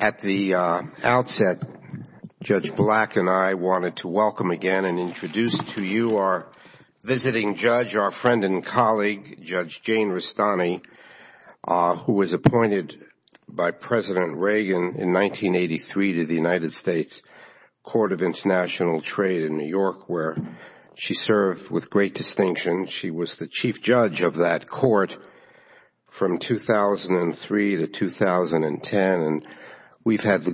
At the outset, Judge Black and I wanted to welcome again and introduce to you our visiting judge, our friend and colleague, Judge Jane Rustani, who was appointed by President Reagan in 1983 to the United States Court of International Trade in New York, where she served with great distinction. She was the chief judge of that court from 2003 to 2010, and we've had the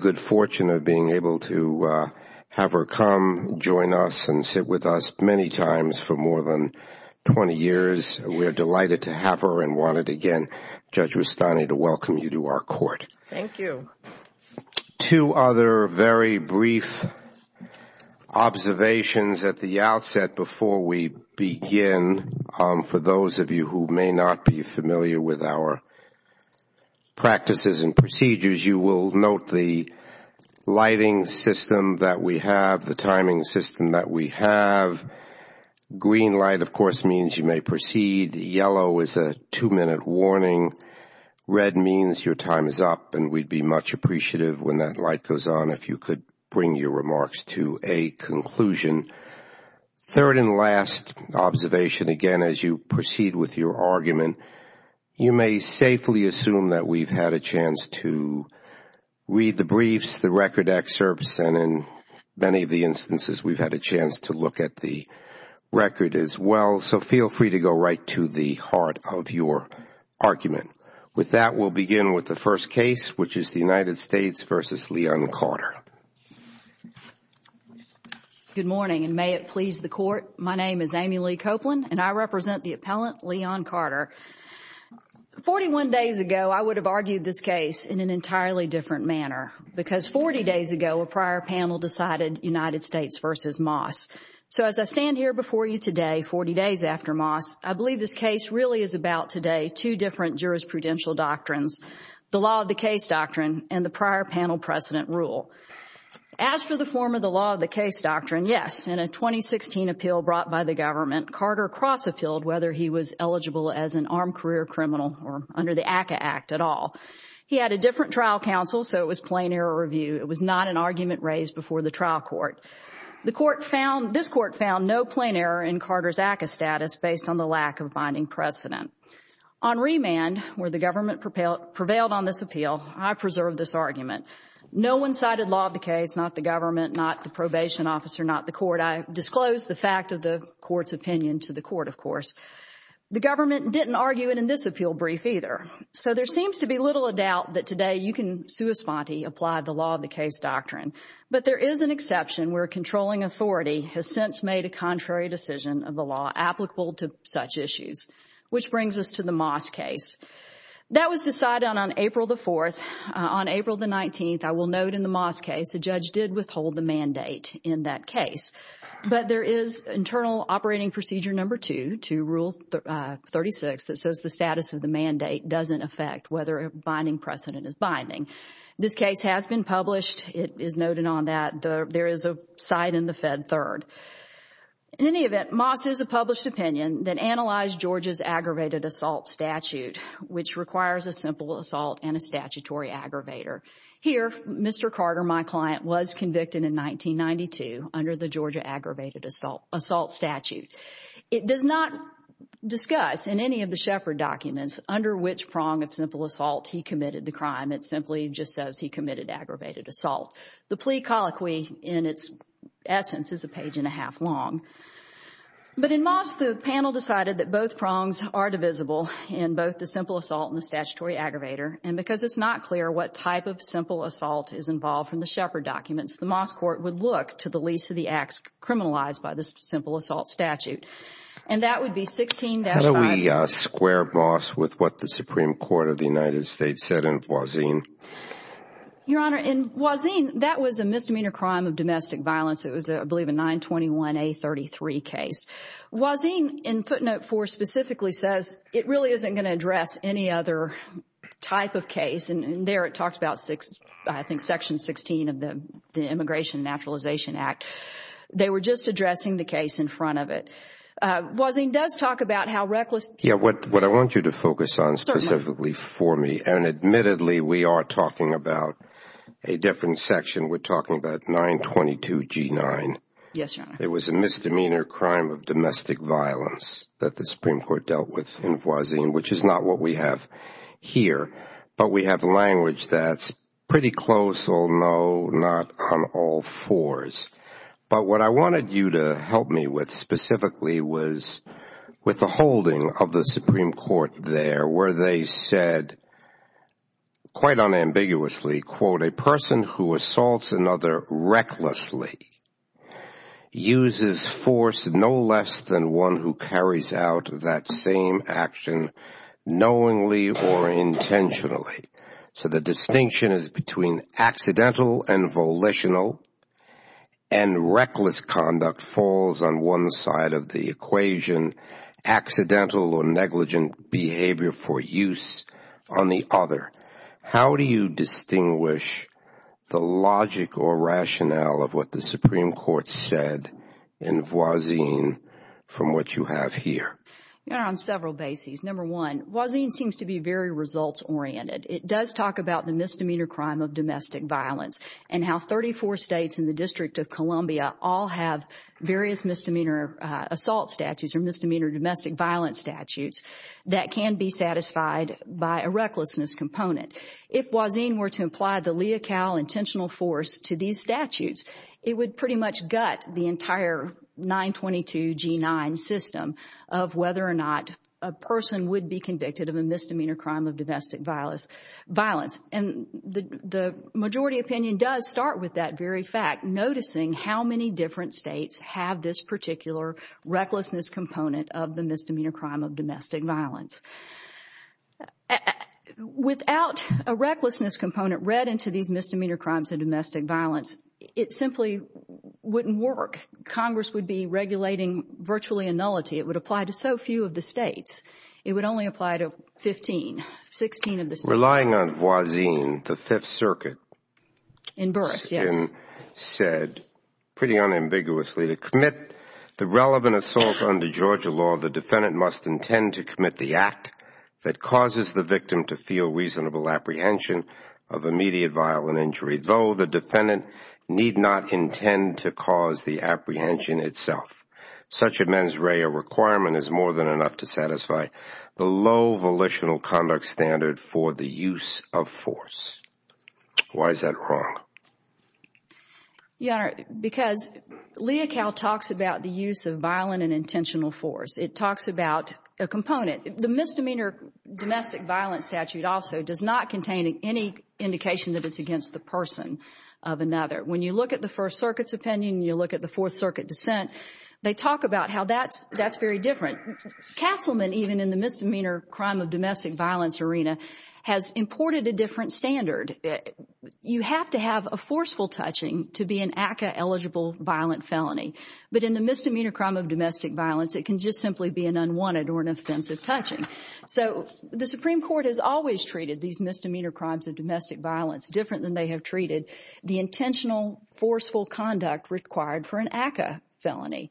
20 years. We are delighted to have her and wanted, again, Judge Rustani to welcome you to our court. Two other very brief observations at the outset before we begin. For those of you who may not be familiar with our practices and procedures, you will note the lighting system that we have, the timing system that we have. Green light, of course, means you may proceed. Yellow is a two-minute warning. Red means your time is up, and we'd be much appreciative when that light goes on if you could bring your remarks to a conclusion. Third and last observation, again, as you proceed with your argument, you may safely assume that we've had a chance to look at the record as well, so feel free to go right to the heart of your argument. With that, we'll begin with the first case, which is the United States v. Leon Carter. Good morning, and may it please the Court. My name is Amy Lee Copeland, and I represent the appellant, Leon Carter. Forty-one days ago, I would have argued this case in an entirely different manner, because forty days ago, a prior panel decided United States v. Moss. So as I stand here before you today, forty days after Moss, I believe this case really is about today two different jurisprudential doctrines, the law of the case doctrine and the prior panel precedent rule. As for the form of the law of the case doctrine, yes, in a 2016 appeal brought by the government, Carter cross-appealed whether he was eligible as an armed career criminal or the ACCA Act at all. He had a different trial counsel, so it was plain error review. It was not an argument raised before the trial court. This Court found no plain error in Carter's ACCA status based on the lack of binding precedent. On remand, where the government prevailed on this appeal, I preserved this argument. No one cited law of the case, not the government, not the probation officer, not the court. I disclosed the fact of the court's opinion to the court, of appeal brief either. So there seems to be little doubt that today you can apply the law of the case doctrine. But there is an exception where a controlling authority has since made a contrary decision of the law applicable to such issues, which brings us to the Moss case. That was decided on April the 4th. On April the 19th, I will note in the Moss case, the judge did withhold the mandate in that case. But there is internal operating procedure number two, rule 36, that says the status of the mandate doesn't affect whether a binding precedent is binding. This case has been published. It is noted on that. There is a side in the Fed Third. In any event, Moss has a published opinion that analyzed Georgia's aggravated assault statute, which requires a simple assault and a statutory aggravator. Here, Mr. Carter, my client, was convicted in 1992 under the Georgia aggravated assault statute. It does not discuss in any of the Shepard documents under which prong of simple assault he committed the crime. It simply just says he committed aggravated assault. The plea colloquy in its essence is a page and a half long. But in Moss, the panel decided that both prongs are divisible in both the simple assault and the statutory aggravator. And because it's not clear what type of simple assault it is, the Moss court would look to the least of the acts criminalized by the simple assault statute. And that would be 16- How do we square Moss with what the Supreme Court of the United States said in Wazin? Your Honor, in Wazin, that was a misdemeanor crime of domestic violence. It was, I believe, a 921A33 case. Wazin, in footnote four, specifically says it really isn't going to address any other type of case. And there it talks about, I think, section 16 of the Immigration and Naturalization Act. They were just addressing the case in front of it. Wazin does talk about how reckless- Yeah, what I want you to focus on specifically for me, and admittedly, we are talking about a different section. We're talking about 922G9. Yes, Your Honor. It was a misdemeanor crime of domestic violence that the Supreme Court dealt with in Wazin, which is not what we have here. But we have language that's pretty close, or no, not on all fours. But what I wanted you to help me with specifically was with the holding of the Supreme Court there, where they said, quite unambiguously, quote, a person who assaults another recklessly uses force no less than one who carries out that same action knowingly or intentionally. So the distinction is between accidental and volitional, and reckless conduct falls on one side of the equation, accidental or negligent behavior for use on the other. How do you stand on what the Supreme Court said in Wazin from what you have here? Your Honor, on several bases. Number one, Wazin seems to be very results-oriented. It does talk about the misdemeanor crime of domestic violence and how 34 states and the District of Columbia all have various misdemeanor assault statutes or misdemeanor domestic violence statutes that can be satisfied by a recklessness component. If Wazin were to apply the lea cal intentional force to these statutes, it would pretty much gut the entire 922 G9 system of whether or not a person would be convicted of a misdemeanor crime of domestic violence. And the majority opinion does start with that very fact, noticing how many different states have this particular recklessness component of the misdemeanor crime of domestic violence. Without a recklessness component read into these misdemeanor crimes of domestic violence, it simply wouldn't work. Congress would be regulating virtually a nullity. It would apply to so few of the states. It would only apply to 15, 16 of the states. Relying on Wazin, the Fifth Circuit said pretty unambiguously to commit the relevant assault under Georgia law, the defendant must intend to commit the act that causes the victim to feel reasonable apprehension of immediate violent injury, though the defendant need not intend to cause the apprehension itself. Such a mens rea requirement is more than enough to satisfy the low volitional conduct standard for the use of force. Why is that wrong? Your Honor, because Leocal talks about the use of violent and intentional force. It talks about a component. The misdemeanor domestic violence statute also does not contain any indication that it's against the person of another. When you look at the First Circuit's opinion, you look at the Fourth Circuit dissent, they talk about how that's very different. Castleman, even in the misdemeanor crime of domestic violence arena, has imported a different standard. You have to forceful touching to be an ACCA-eligible violent felony. But in the misdemeanor crime of domestic violence, it can just simply be an unwanted or an offensive touching. So the Supreme Court has always treated these misdemeanor crimes of domestic violence different than they have treated the intentional forceful conduct required for an ACCA felony.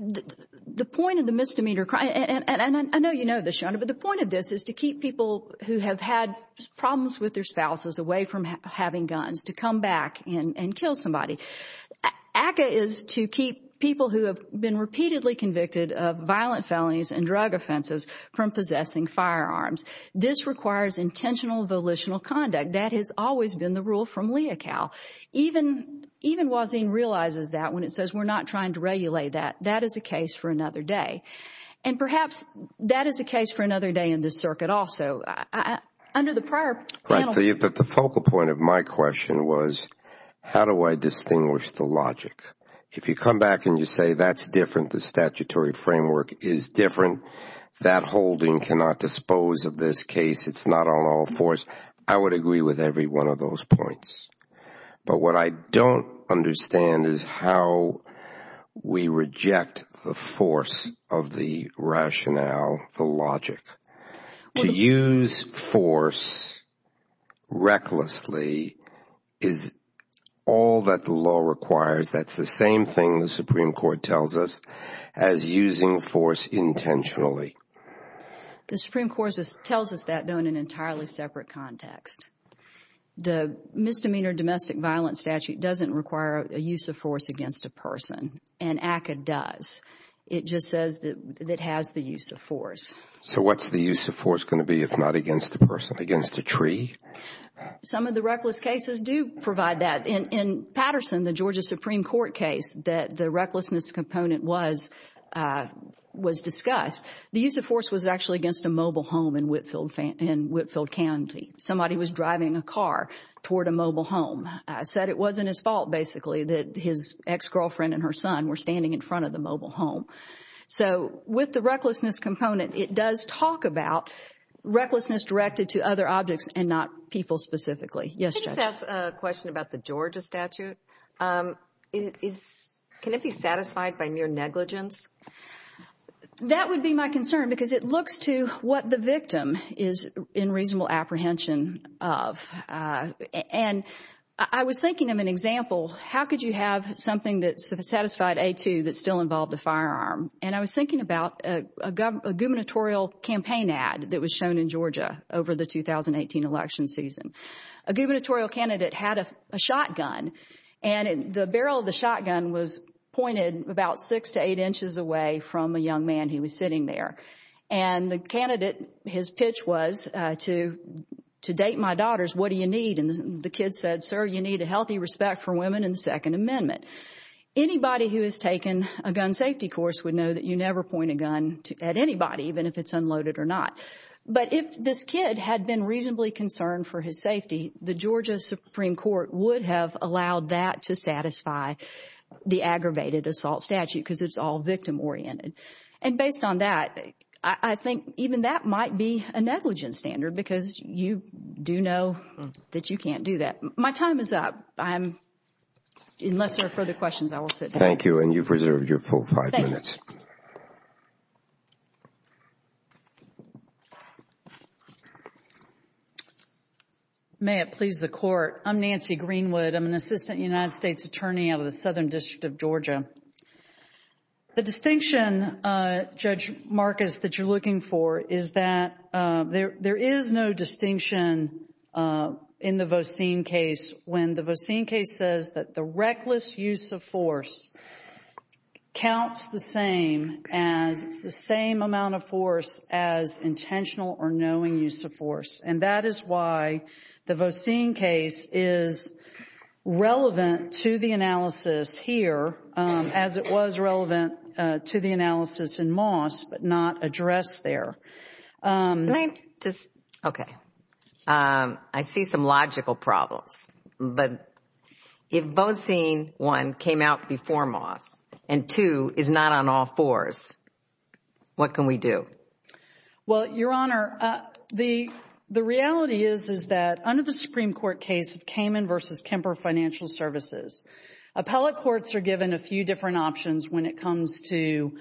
The point of the misdemeanor crime, and I know you know this, Your Honor, but the point of this is to keep people who have had problems with their spouses away from having guns to come back and kill somebody. ACCA is to keep people who have been repeatedly convicted of violent felonies and drug offenses from possessing firearms. This requires intentional volitional conduct. That has always been the rule from Leocal. Even Wazin realizes that when it says we're not trying to regulate that. That is a case for another day. And perhaps that is a case for another day in the circuit also. Under the prior panel... Right. But the focal point of my question was, how do I distinguish the logic? If you come back and you say that's different, the statutory framework is different, that holding cannot dispose of this case, it's not on all fours, I would agree with every one of those points. But what I don't understand is how we reject the force of the rationale, the logic. To use force recklessly is all that the law requires. That's the same thing the Supreme Court tells us as using force intentionally. The Supreme Court tells us that, though, in an entirely separate context. The Misdemeanor Domestic Violence Statute doesn't require a use of force against a person, and ACCA does. It just says that it has the use of force. So what's the use of force going to be if not against a person, against a tree? Some of the reckless cases do provide that. In Patterson, the Georgia Supreme Court case, that the recklessness component was discussed, the use of force was actually against a mobile home in Whitfield County. Somebody was driving a car toward a mobile home. Said it wasn't his fault, basically, that his ex-girlfriend and her son were standing in front of the mobile home. So with the recklessness component, it does talk about recklessness directed to other objects and not people specifically. Yes, Judge? I just have a question about the Georgia statute. Can it be satisfied by mere negligence? That would be my concern because it looks to what the victim is in reasonable apprehension of. And I was thinking of an example. How could you have something that satisfied A2 that still involved a firearm? And I was thinking about a gubernatorial campaign ad that was shown in Georgia over the 2018 election season. A gubernatorial candidate had a shotgun, and the barrel of the shotgun was pointed about six to eight inches away from a young man who was sitting there. And the candidate, his pitch was to date my daughters, what do you Anybody who has taken a gun safety course would know that you never point a gun at anybody, even if it's unloaded or not. But if this kid had been reasonably concerned for his safety, the Georgia Supreme Court would have allowed that to satisfy the aggravated assault statute because it's all victim oriented. And based on that, I think even that might be a negligence because you do know that you can't do that. My time is up. Unless there are further questions, I will sit down. Thank you. And you've reserved your full five minutes. May it please the Court. I'm Nancy Greenwood. I'm an assistant United States attorney out of the Southern District of Georgia. The distinction, Judge Marcus, that you're looking for is that there is no distinction in the Vosine case when the Vosine case says that the reckless use of force counts the same as the same amount of force as intentional or knowing use of force. And that is why the Vosine case is relevant to the analysis here as it was relevant to the analysis in Moss, but not addressed there. I see some logical problems, but if Vosine 1 came out before Moss and 2 is not on all fours, what can we do? Well, Your Honor, the reality is that under the Supreme Court case of Kamen v. Kemper Financial Services, appellate courts are given a few options when it comes to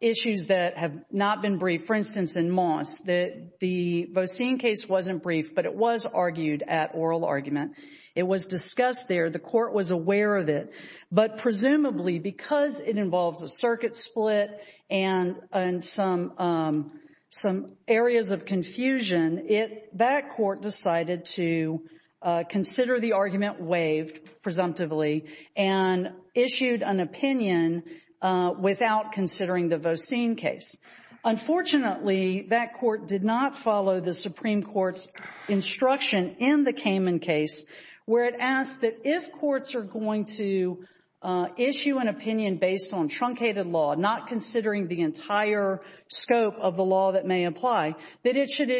issues that have not been briefed. For instance, in Moss, the Vosine case wasn't briefed, but it was argued at oral argument. It was discussed there. The court was aware of it. But presumably, because it involves a circuit split and some areas of confusion, that court decided to consider the argument waived presumptively and issued an opinion without considering the Vosine case. Unfortunately, that court did not follow the Supreme Court's instruction in the Kamen case, where it asked that if courts are going to issue an opinion based on truncated law, not considering the entire scope of the law that may apply, that it should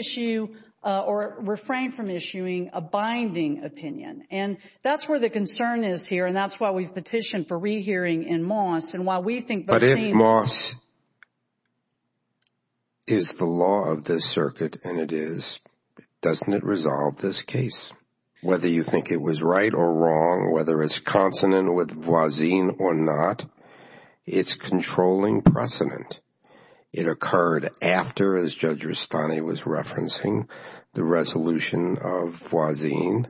or refrain from issuing a binding opinion. And that's where the concern is here, and that's why we've petitioned for rehearing in Moss. But if Moss is the law of this circuit and it is, doesn't it resolve this case? Whether you think it was right or wrong, whether it's consonant with Vosine or not, it's controlling precedent. It occurred after, as Judge Rastani was referencing, the resolution of Vosine.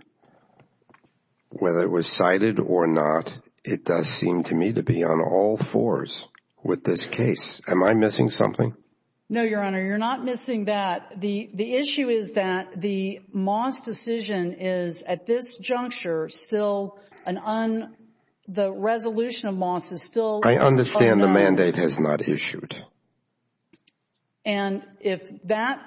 Whether it was cited or not, it does seem to me to be on all fours with this case. Am I missing something? No, Your Honor, you're not missing that. The issue is that the Moss decision is at this juncture still an un, the resolution of Moss is I understand the mandate has not issued. And if that,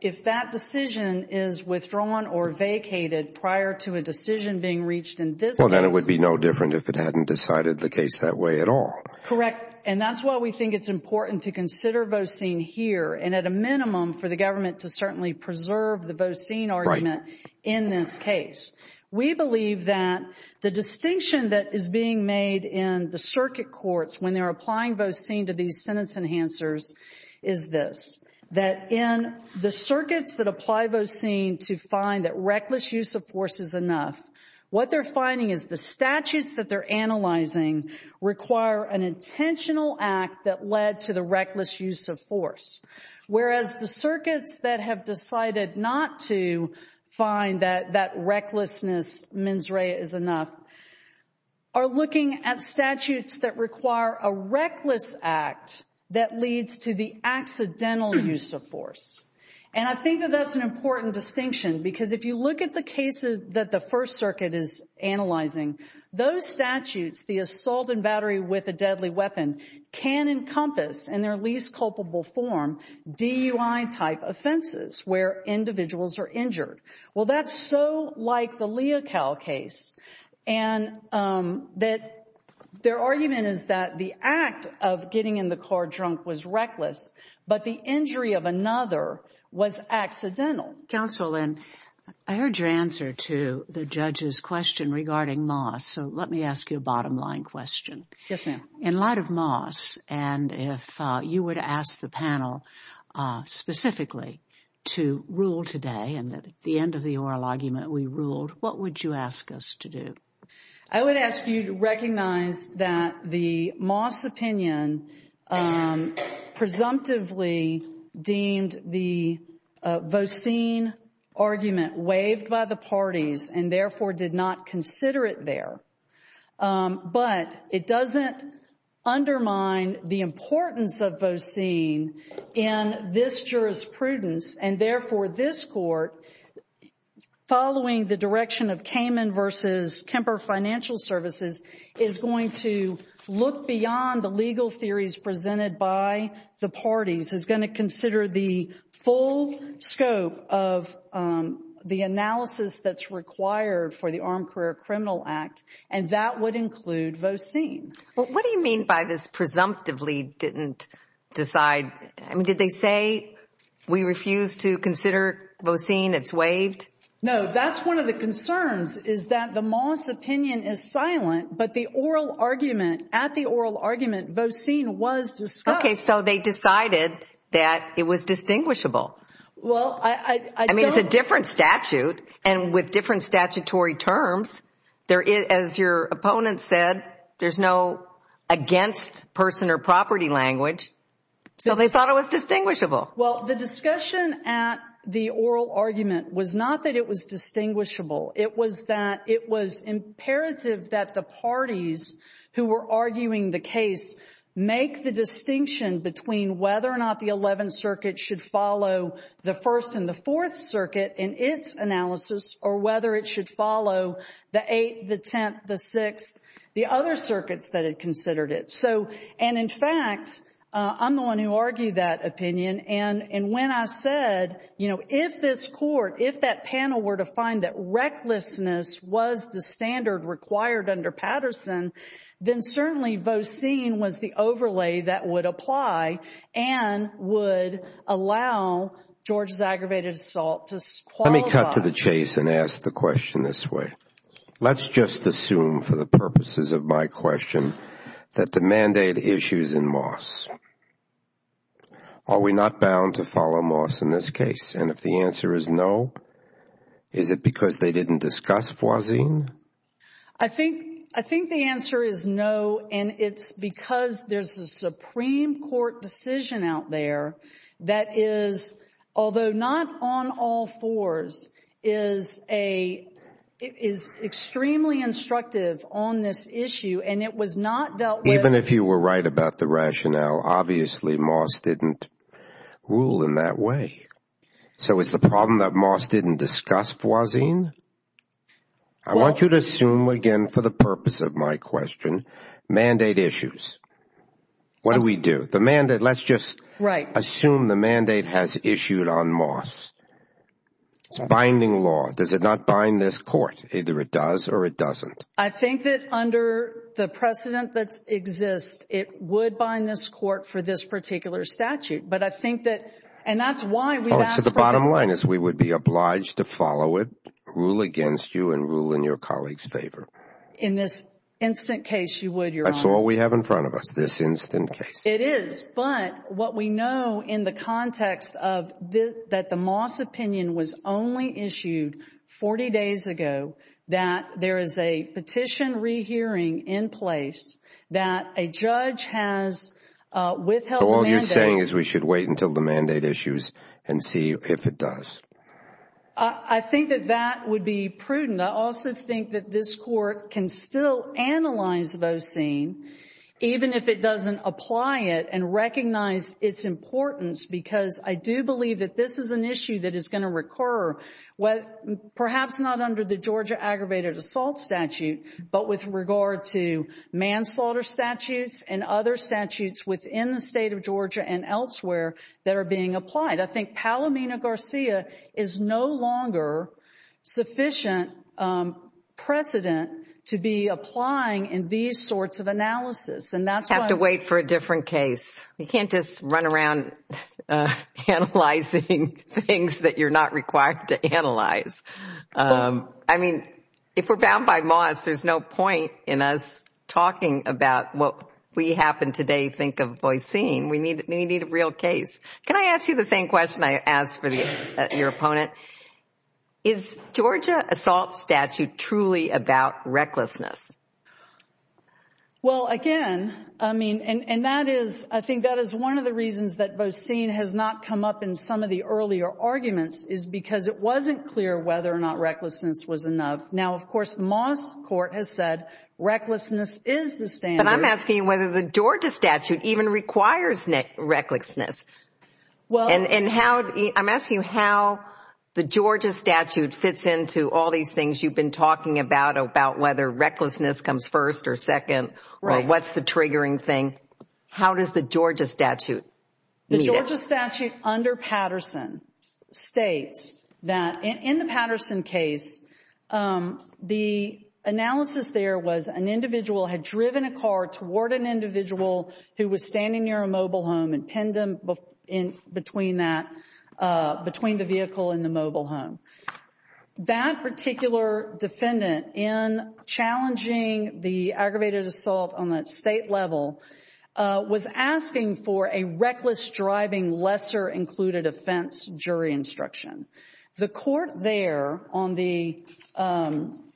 if that decision is withdrawn or vacated prior to a decision being reached in this case. Well, then it would be no different if it hadn't decided the case that way at all. Correct. And that's why we think it's important to consider Vosine here and at a minimum for the government to certainly preserve the Vosine argument in this when they're applying Vosine to these sentence enhancers is this, that in the circuits that apply Vosine to find that reckless use of force is enough, what they're finding is the statutes that they're analyzing require an intentional act that led to the reckless use of force. Whereas the circuits that have decided not to find that that recklessness mens rea is enough are looking at statutes that require a reckless act that leads to the accidental use of force. And I think that that's an important distinction because if you look at the cases that the First Circuit is analyzing, those statutes, the assault and battery with a deadly weapon can encompass in their least culpable form DUI type offenses where individuals are injured. Well, that's so like the Leocal case. And that their argument is that the act of getting in the car drunk was reckless, but the injury of another was accidental. Counsel, and I heard your answer to the judge's question regarding Moss. So let me ask you a bottom line question. Yes, ma'am. In light of Moss, and if you were to ask the panel specifically to rule today and at the end of the oral argument, we ruled, what would you ask us to do? I would ask you to recognize that the Moss opinion presumptively deemed the Vosine argument waived by the parties and therefore did not consider it there. But it doesn't undermine the importance of Vosine in this jurisprudence. And therefore, this court, following the direction of Kamen v. Kemper Financial Services, is going to look beyond the legal theories presented by the parties, is going to consider the full scope of the analysis that's required for the Armed Career Criminal Act. And that would include Vosine. What do you mean by this presumptively didn't decide? I mean, did they say, we refuse to consider Vosine, it's waived? No, that's one of the concerns is that the Moss opinion is silent, but the oral argument, at the oral argument, Vosine was discussed. Okay, so they decided that it was distinguishable. Well, I mean, it's a different statute. And with against person or property language. So they thought it was distinguishable. Well, the discussion at the oral argument was not that it was distinguishable. It was that it was imperative that the parties who were arguing the case make the distinction between whether or not the 11th Circuit should follow the 1st and the 4th Circuit in its analysis, or whether it should follow the 8th, the 10th, the 6th, the other circuits that had considered it. So, and in fact, I'm the one who argued that opinion. And when I said, you know, if this court, if that panel were to find that recklessness was the standard required under Patterson, then certainly Vosine was the overlay that would apply and would allow George's aggravated assault to qualify. Let me cut to the chase and ask the question this way. Let's just assume for the purposes of my question that the mandate issues in Moss. Are we not bound to follow Moss in this case? And if the answer is no, is it because they didn't discuss Vosine? I think the answer is no. And it's because there's a Supreme Court decision out there that is, although not on all fours, is a, is extremely instructive on this issue and it was not dealt with. Even if you were right about the rationale, obviously Moss didn't rule in that way. So is the problem that Moss didn't discuss Vosine? I want you to assume again for the purpose of my question, mandate issues. What do we do? The mandate, let's just assume the mandate has issued on Moss. It's binding law. Does it not bind this court? Either it does or it doesn't. I think that under the precedent that exists, it would bind this court for this particular statute. But I think that, and that's why we've asked for that. So the bottom line is we would be obliged to follow it, rule against you and rule in your colleagues' favor. In this instant case you would, Your Honor. That's all we have in front of us, this instant case. It is, but what we know in the context of that the Moss opinion was only issued 40 days ago, that there is a petition rehearing in place that a judge has withheld the mandate. So all you're saying is we should wait until the mandate issues and see if it does. I think that that would be prudent. I also think that this court can still analyze Vosine, even if it doesn't apply it and recognize its importance, because I do believe that this is an issue that is going to recur, perhaps not under the Georgia aggravated assault statute, but with regard to manslaughter statutes and other statutes within the state of Georgia and elsewhere that are being applied. I think Palomino-Garcia is no longer sufficient precedent to be applying in these sorts of analysis. And that's why... Have to wait for a different case. You can't just run around analyzing things that you're not required to analyze. I mean, if we're bound by Moss, there's no point in us talking about what we happen to think of Vosine. We need a real case. Can I ask you the same question I asked for your opponent? Is Georgia assault statute truly about recklessness? Well, again, I mean, and that is, I think that is one of the reasons that Vosine has not come up in some of the earlier arguments is because it wasn't clear whether or not recklessness was enough. Now, Moss court has said recklessness is the standard. But I'm asking you whether the Georgia statute even requires recklessness. I'm asking you how the Georgia statute fits into all these things you've been talking about, about whether recklessness comes first or second, or what's the triggering thing. How does the Georgia statute meet it? The Georgia statute under Patterson states that in the Patterson case, the analysis there was an individual had driven a car toward an individual who was standing near a mobile home and pinned them in between that, between the vehicle and the mobile home. That particular defendant in challenging the aggravated assault on that state level was asking for a reckless driving lesser included offense jury instruction. The court there on the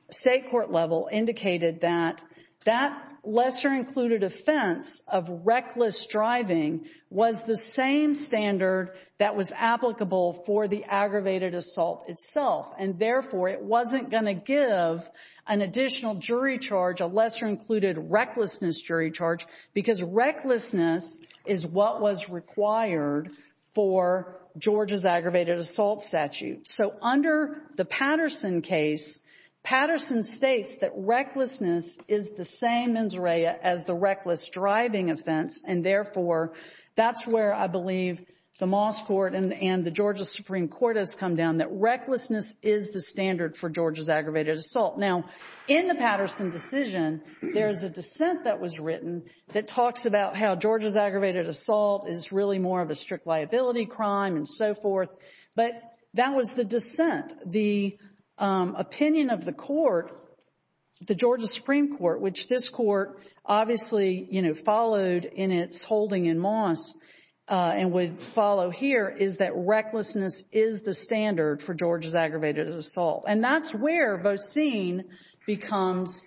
state court level indicated that that lesser included offense of reckless driving was the same standard that was applicable for the aggravated assault itself. And therefore, it wasn't going to give an additional jury charge, a lesser included recklessness jury charge, because recklessness is what was required for Georgia's aggravated assault statute. So under the Patterson case, Patterson states that recklessness is the same injury as the reckless driving offense. And therefore, that's where I believe the Moss court and the Georgia Supreme Court has come down that recklessness is the dissent that was written that talks about how Georgia's aggravated assault is really more of a strict liability crime and so forth. But that was the dissent. The opinion of the court, the Georgia Supreme Court, which this court obviously, you know, followed in its holding in Moss and would follow here, is that recklessness is the standard for Georgia's aggravated assault. And that's where Vosine becomes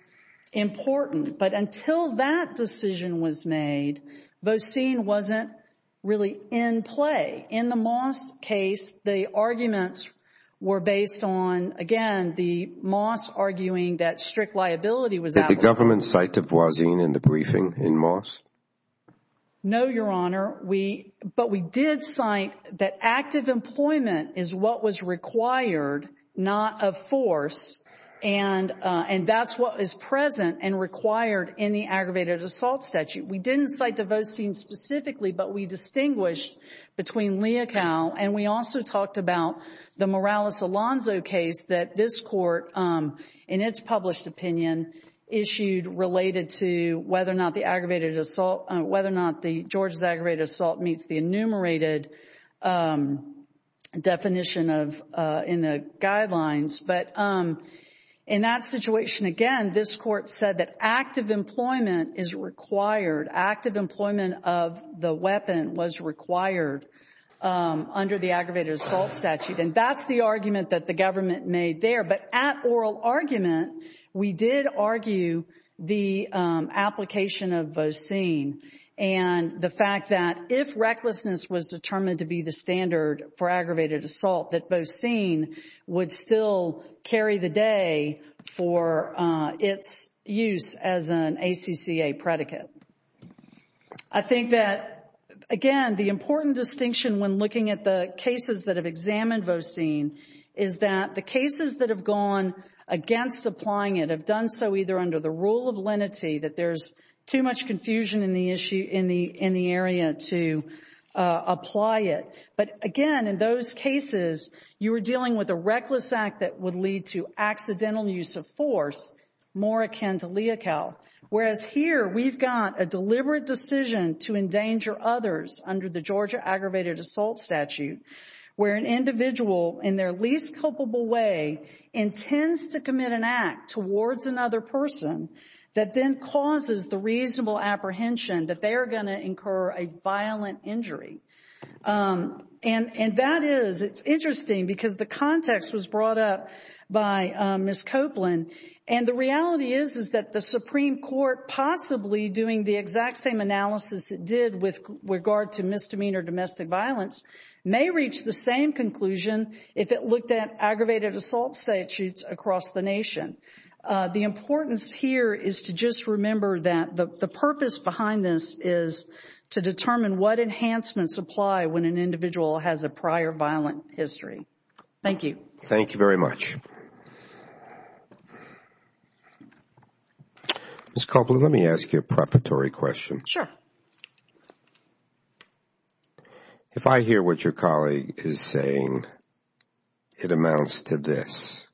important. But until that decision was made, Vosine wasn't really in play. In the Moss case, the arguments were based on, again, the Moss arguing that strict liability was at work. Did the government cite Vosine in the briefing in Moss? No, Your Honor. But we did cite that active employment is what was required, not of force. And that's what is present and required in the aggravated assault statute. We didn't cite the Vosine specifically, but we distinguished between Leocal and we also talked about the Morales-Alonzo case that this court, in its published opinion, issued related to whether the aggravated assault, whether or not the Georgia's aggravated assault meets the enumerated definition in the guidelines. But in that situation, again, this court said that active employment is required. Active employment of the weapon was required under the aggravated assault statute. And that's the argument that the government made there. But at oral argument, we did argue the application of Vosine and the fact that if recklessness was determined to be the standard for aggravated assault, that Vosine would still carry the day for its use as an ACCA predicate. I think that, again, the important distinction when looking at the cases that have done so either under the rule of lenity, that there's too much confusion in the area to apply it. But again, in those cases, you were dealing with a reckless act that would lead to accidental use of force, more akin to Leocal. Whereas here, we've got a deliberate decision to endanger others under the Georgia aggravated assault statute, where an individual in their culpable way intends to commit an act towards another person that then causes the reasonable apprehension that they are going to incur a violent injury. And that is, it's interesting because the context was brought up by Ms. Copeland. And the reality is, is that the Supreme Court, possibly doing the exact same analysis it did with regard to misdemeanor domestic violence, may reach the same conclusion if it looked at aggravated assault statutes across the nation. The importance here is to just remember that the purpose behind this is to determine what enhancements apply when an individual has a prior violent history. Thank you. Thank you very much. Ms. Copeland, let me ask you a prefatory question. Sure. If I hear what your colleague is saying, it amounts to this.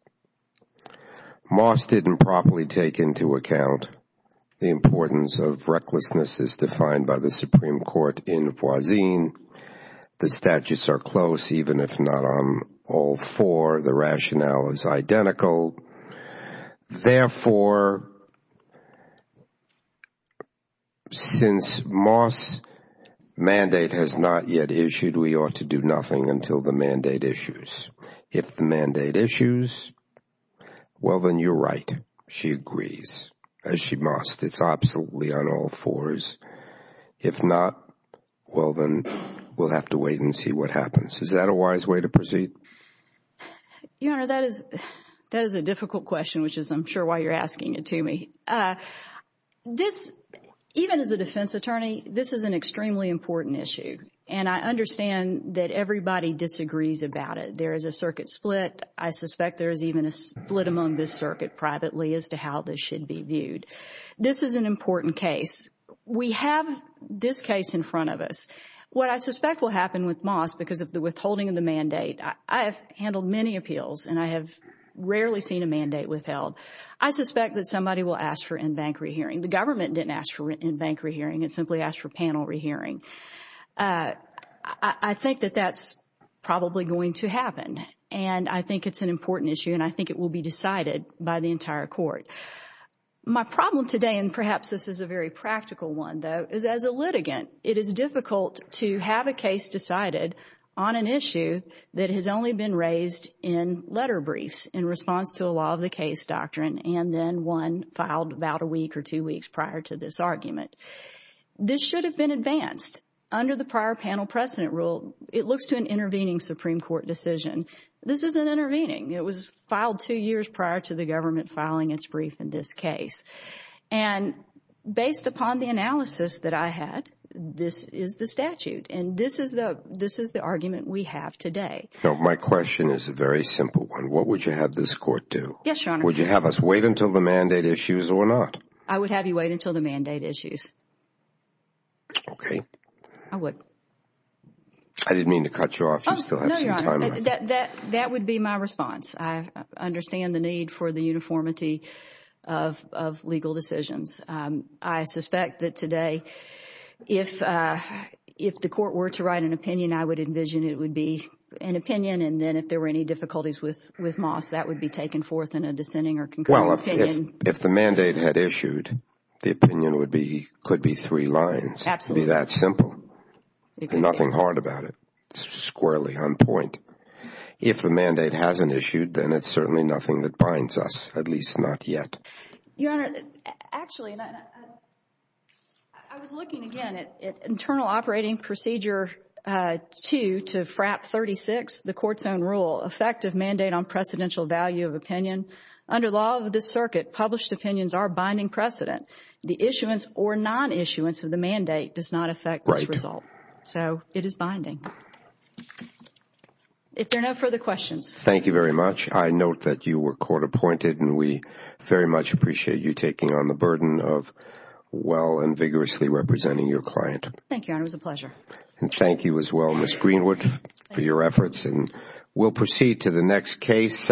Moss didn't properly take into account the importance of recklessness as defined by the Supreme Court in Boisille. The statutes are close, even if not on all four. The rationale is identical. Therefore, since Moss' mandate has not yet issued, we ought to do nothing until the mandate issues. If the mandate issues, well, then you're right. She agrees, as she must. It's absolutely on all fours. If not, well, then we'll have to wait and see what happens. Is that a wise way to proceed? Your Honor, that is a difficult question, which is, I'm sure, why you're asking it to me. Even as a defense attorney, this is an extremely important issue. I understand that everybody disagrees about it. There is a circuit split. I suspect there is even a split among this circuit privately as to how this should be viewed. This is an important case. We have this case in front of us. What I suspect will happen with Moss, because of the withholding of the mandate, I have handled many appeals, and I have rarely seen a mandate withheld. I suspect that somebody will ask for in-bank rehearing. The government didn't ask for in-bank rehearing. It simply asked for panel rehearing. I think that that's probably going to happen. I think it's an important issue, and I think it will be decided by the entire Court. My problem today, and perhaps this is a very practical one, though, is as a litigant, it is difficult to have a case decided on an issue that has only been raised in letter briefs in response to a law of the case doctrine and then one filed about a week or two weeks prior to this argument. This should have been advanced. Under the prior panel precedent rule, it looks to an intervening Supreme Court decision. This isn't intervening. It was filed two years prior to the government filing its brief in this case. Based upon the analysis that I had, this is the statute, and this is the argument we have today. My question is a very simple one. What would you have this Court do? Yes, Your Honor. Would you have us wait until the mandate issues or not? I would have you wait until the mandate issues. Okay. I would. I didn't mean to cut you off. You still have some time. That would be my response. I understand the need for the uniformity of legal decisions. I suspect that if the Court were to write an opinion, I would envision it would be an opinion, and then if there were any difficulties with Moss, that would be taken forth in a dissenting or concurring opinion. Well, if the mandate had issued, the opinion could be three lines. Absolutely. It would be that simple. Nothing hard about it. It's squarely on point. If the mandate hasn't issued, then it's certainly nothing that binds us, at least not yet. Your Honor, actually, I was looking again at Internal Operating Procedure 2 to FRAP 36, the Court's own rule, effective mandate on precedential value of opinion. Under law of this circuit, published opinions are binding precedent. The issuance or non-issuance of the mandate does not affect this result. So it is binding. If there are no further questions. Thank you very much. I note that you were court appointed, and we very much appreciate you taking on the burden of well and vigorously representing your client. Thank you, Your Honor. It was a pleasure. And thank you as well, Ms. Greenwood, for your efforts, and we'll proceed to the next case.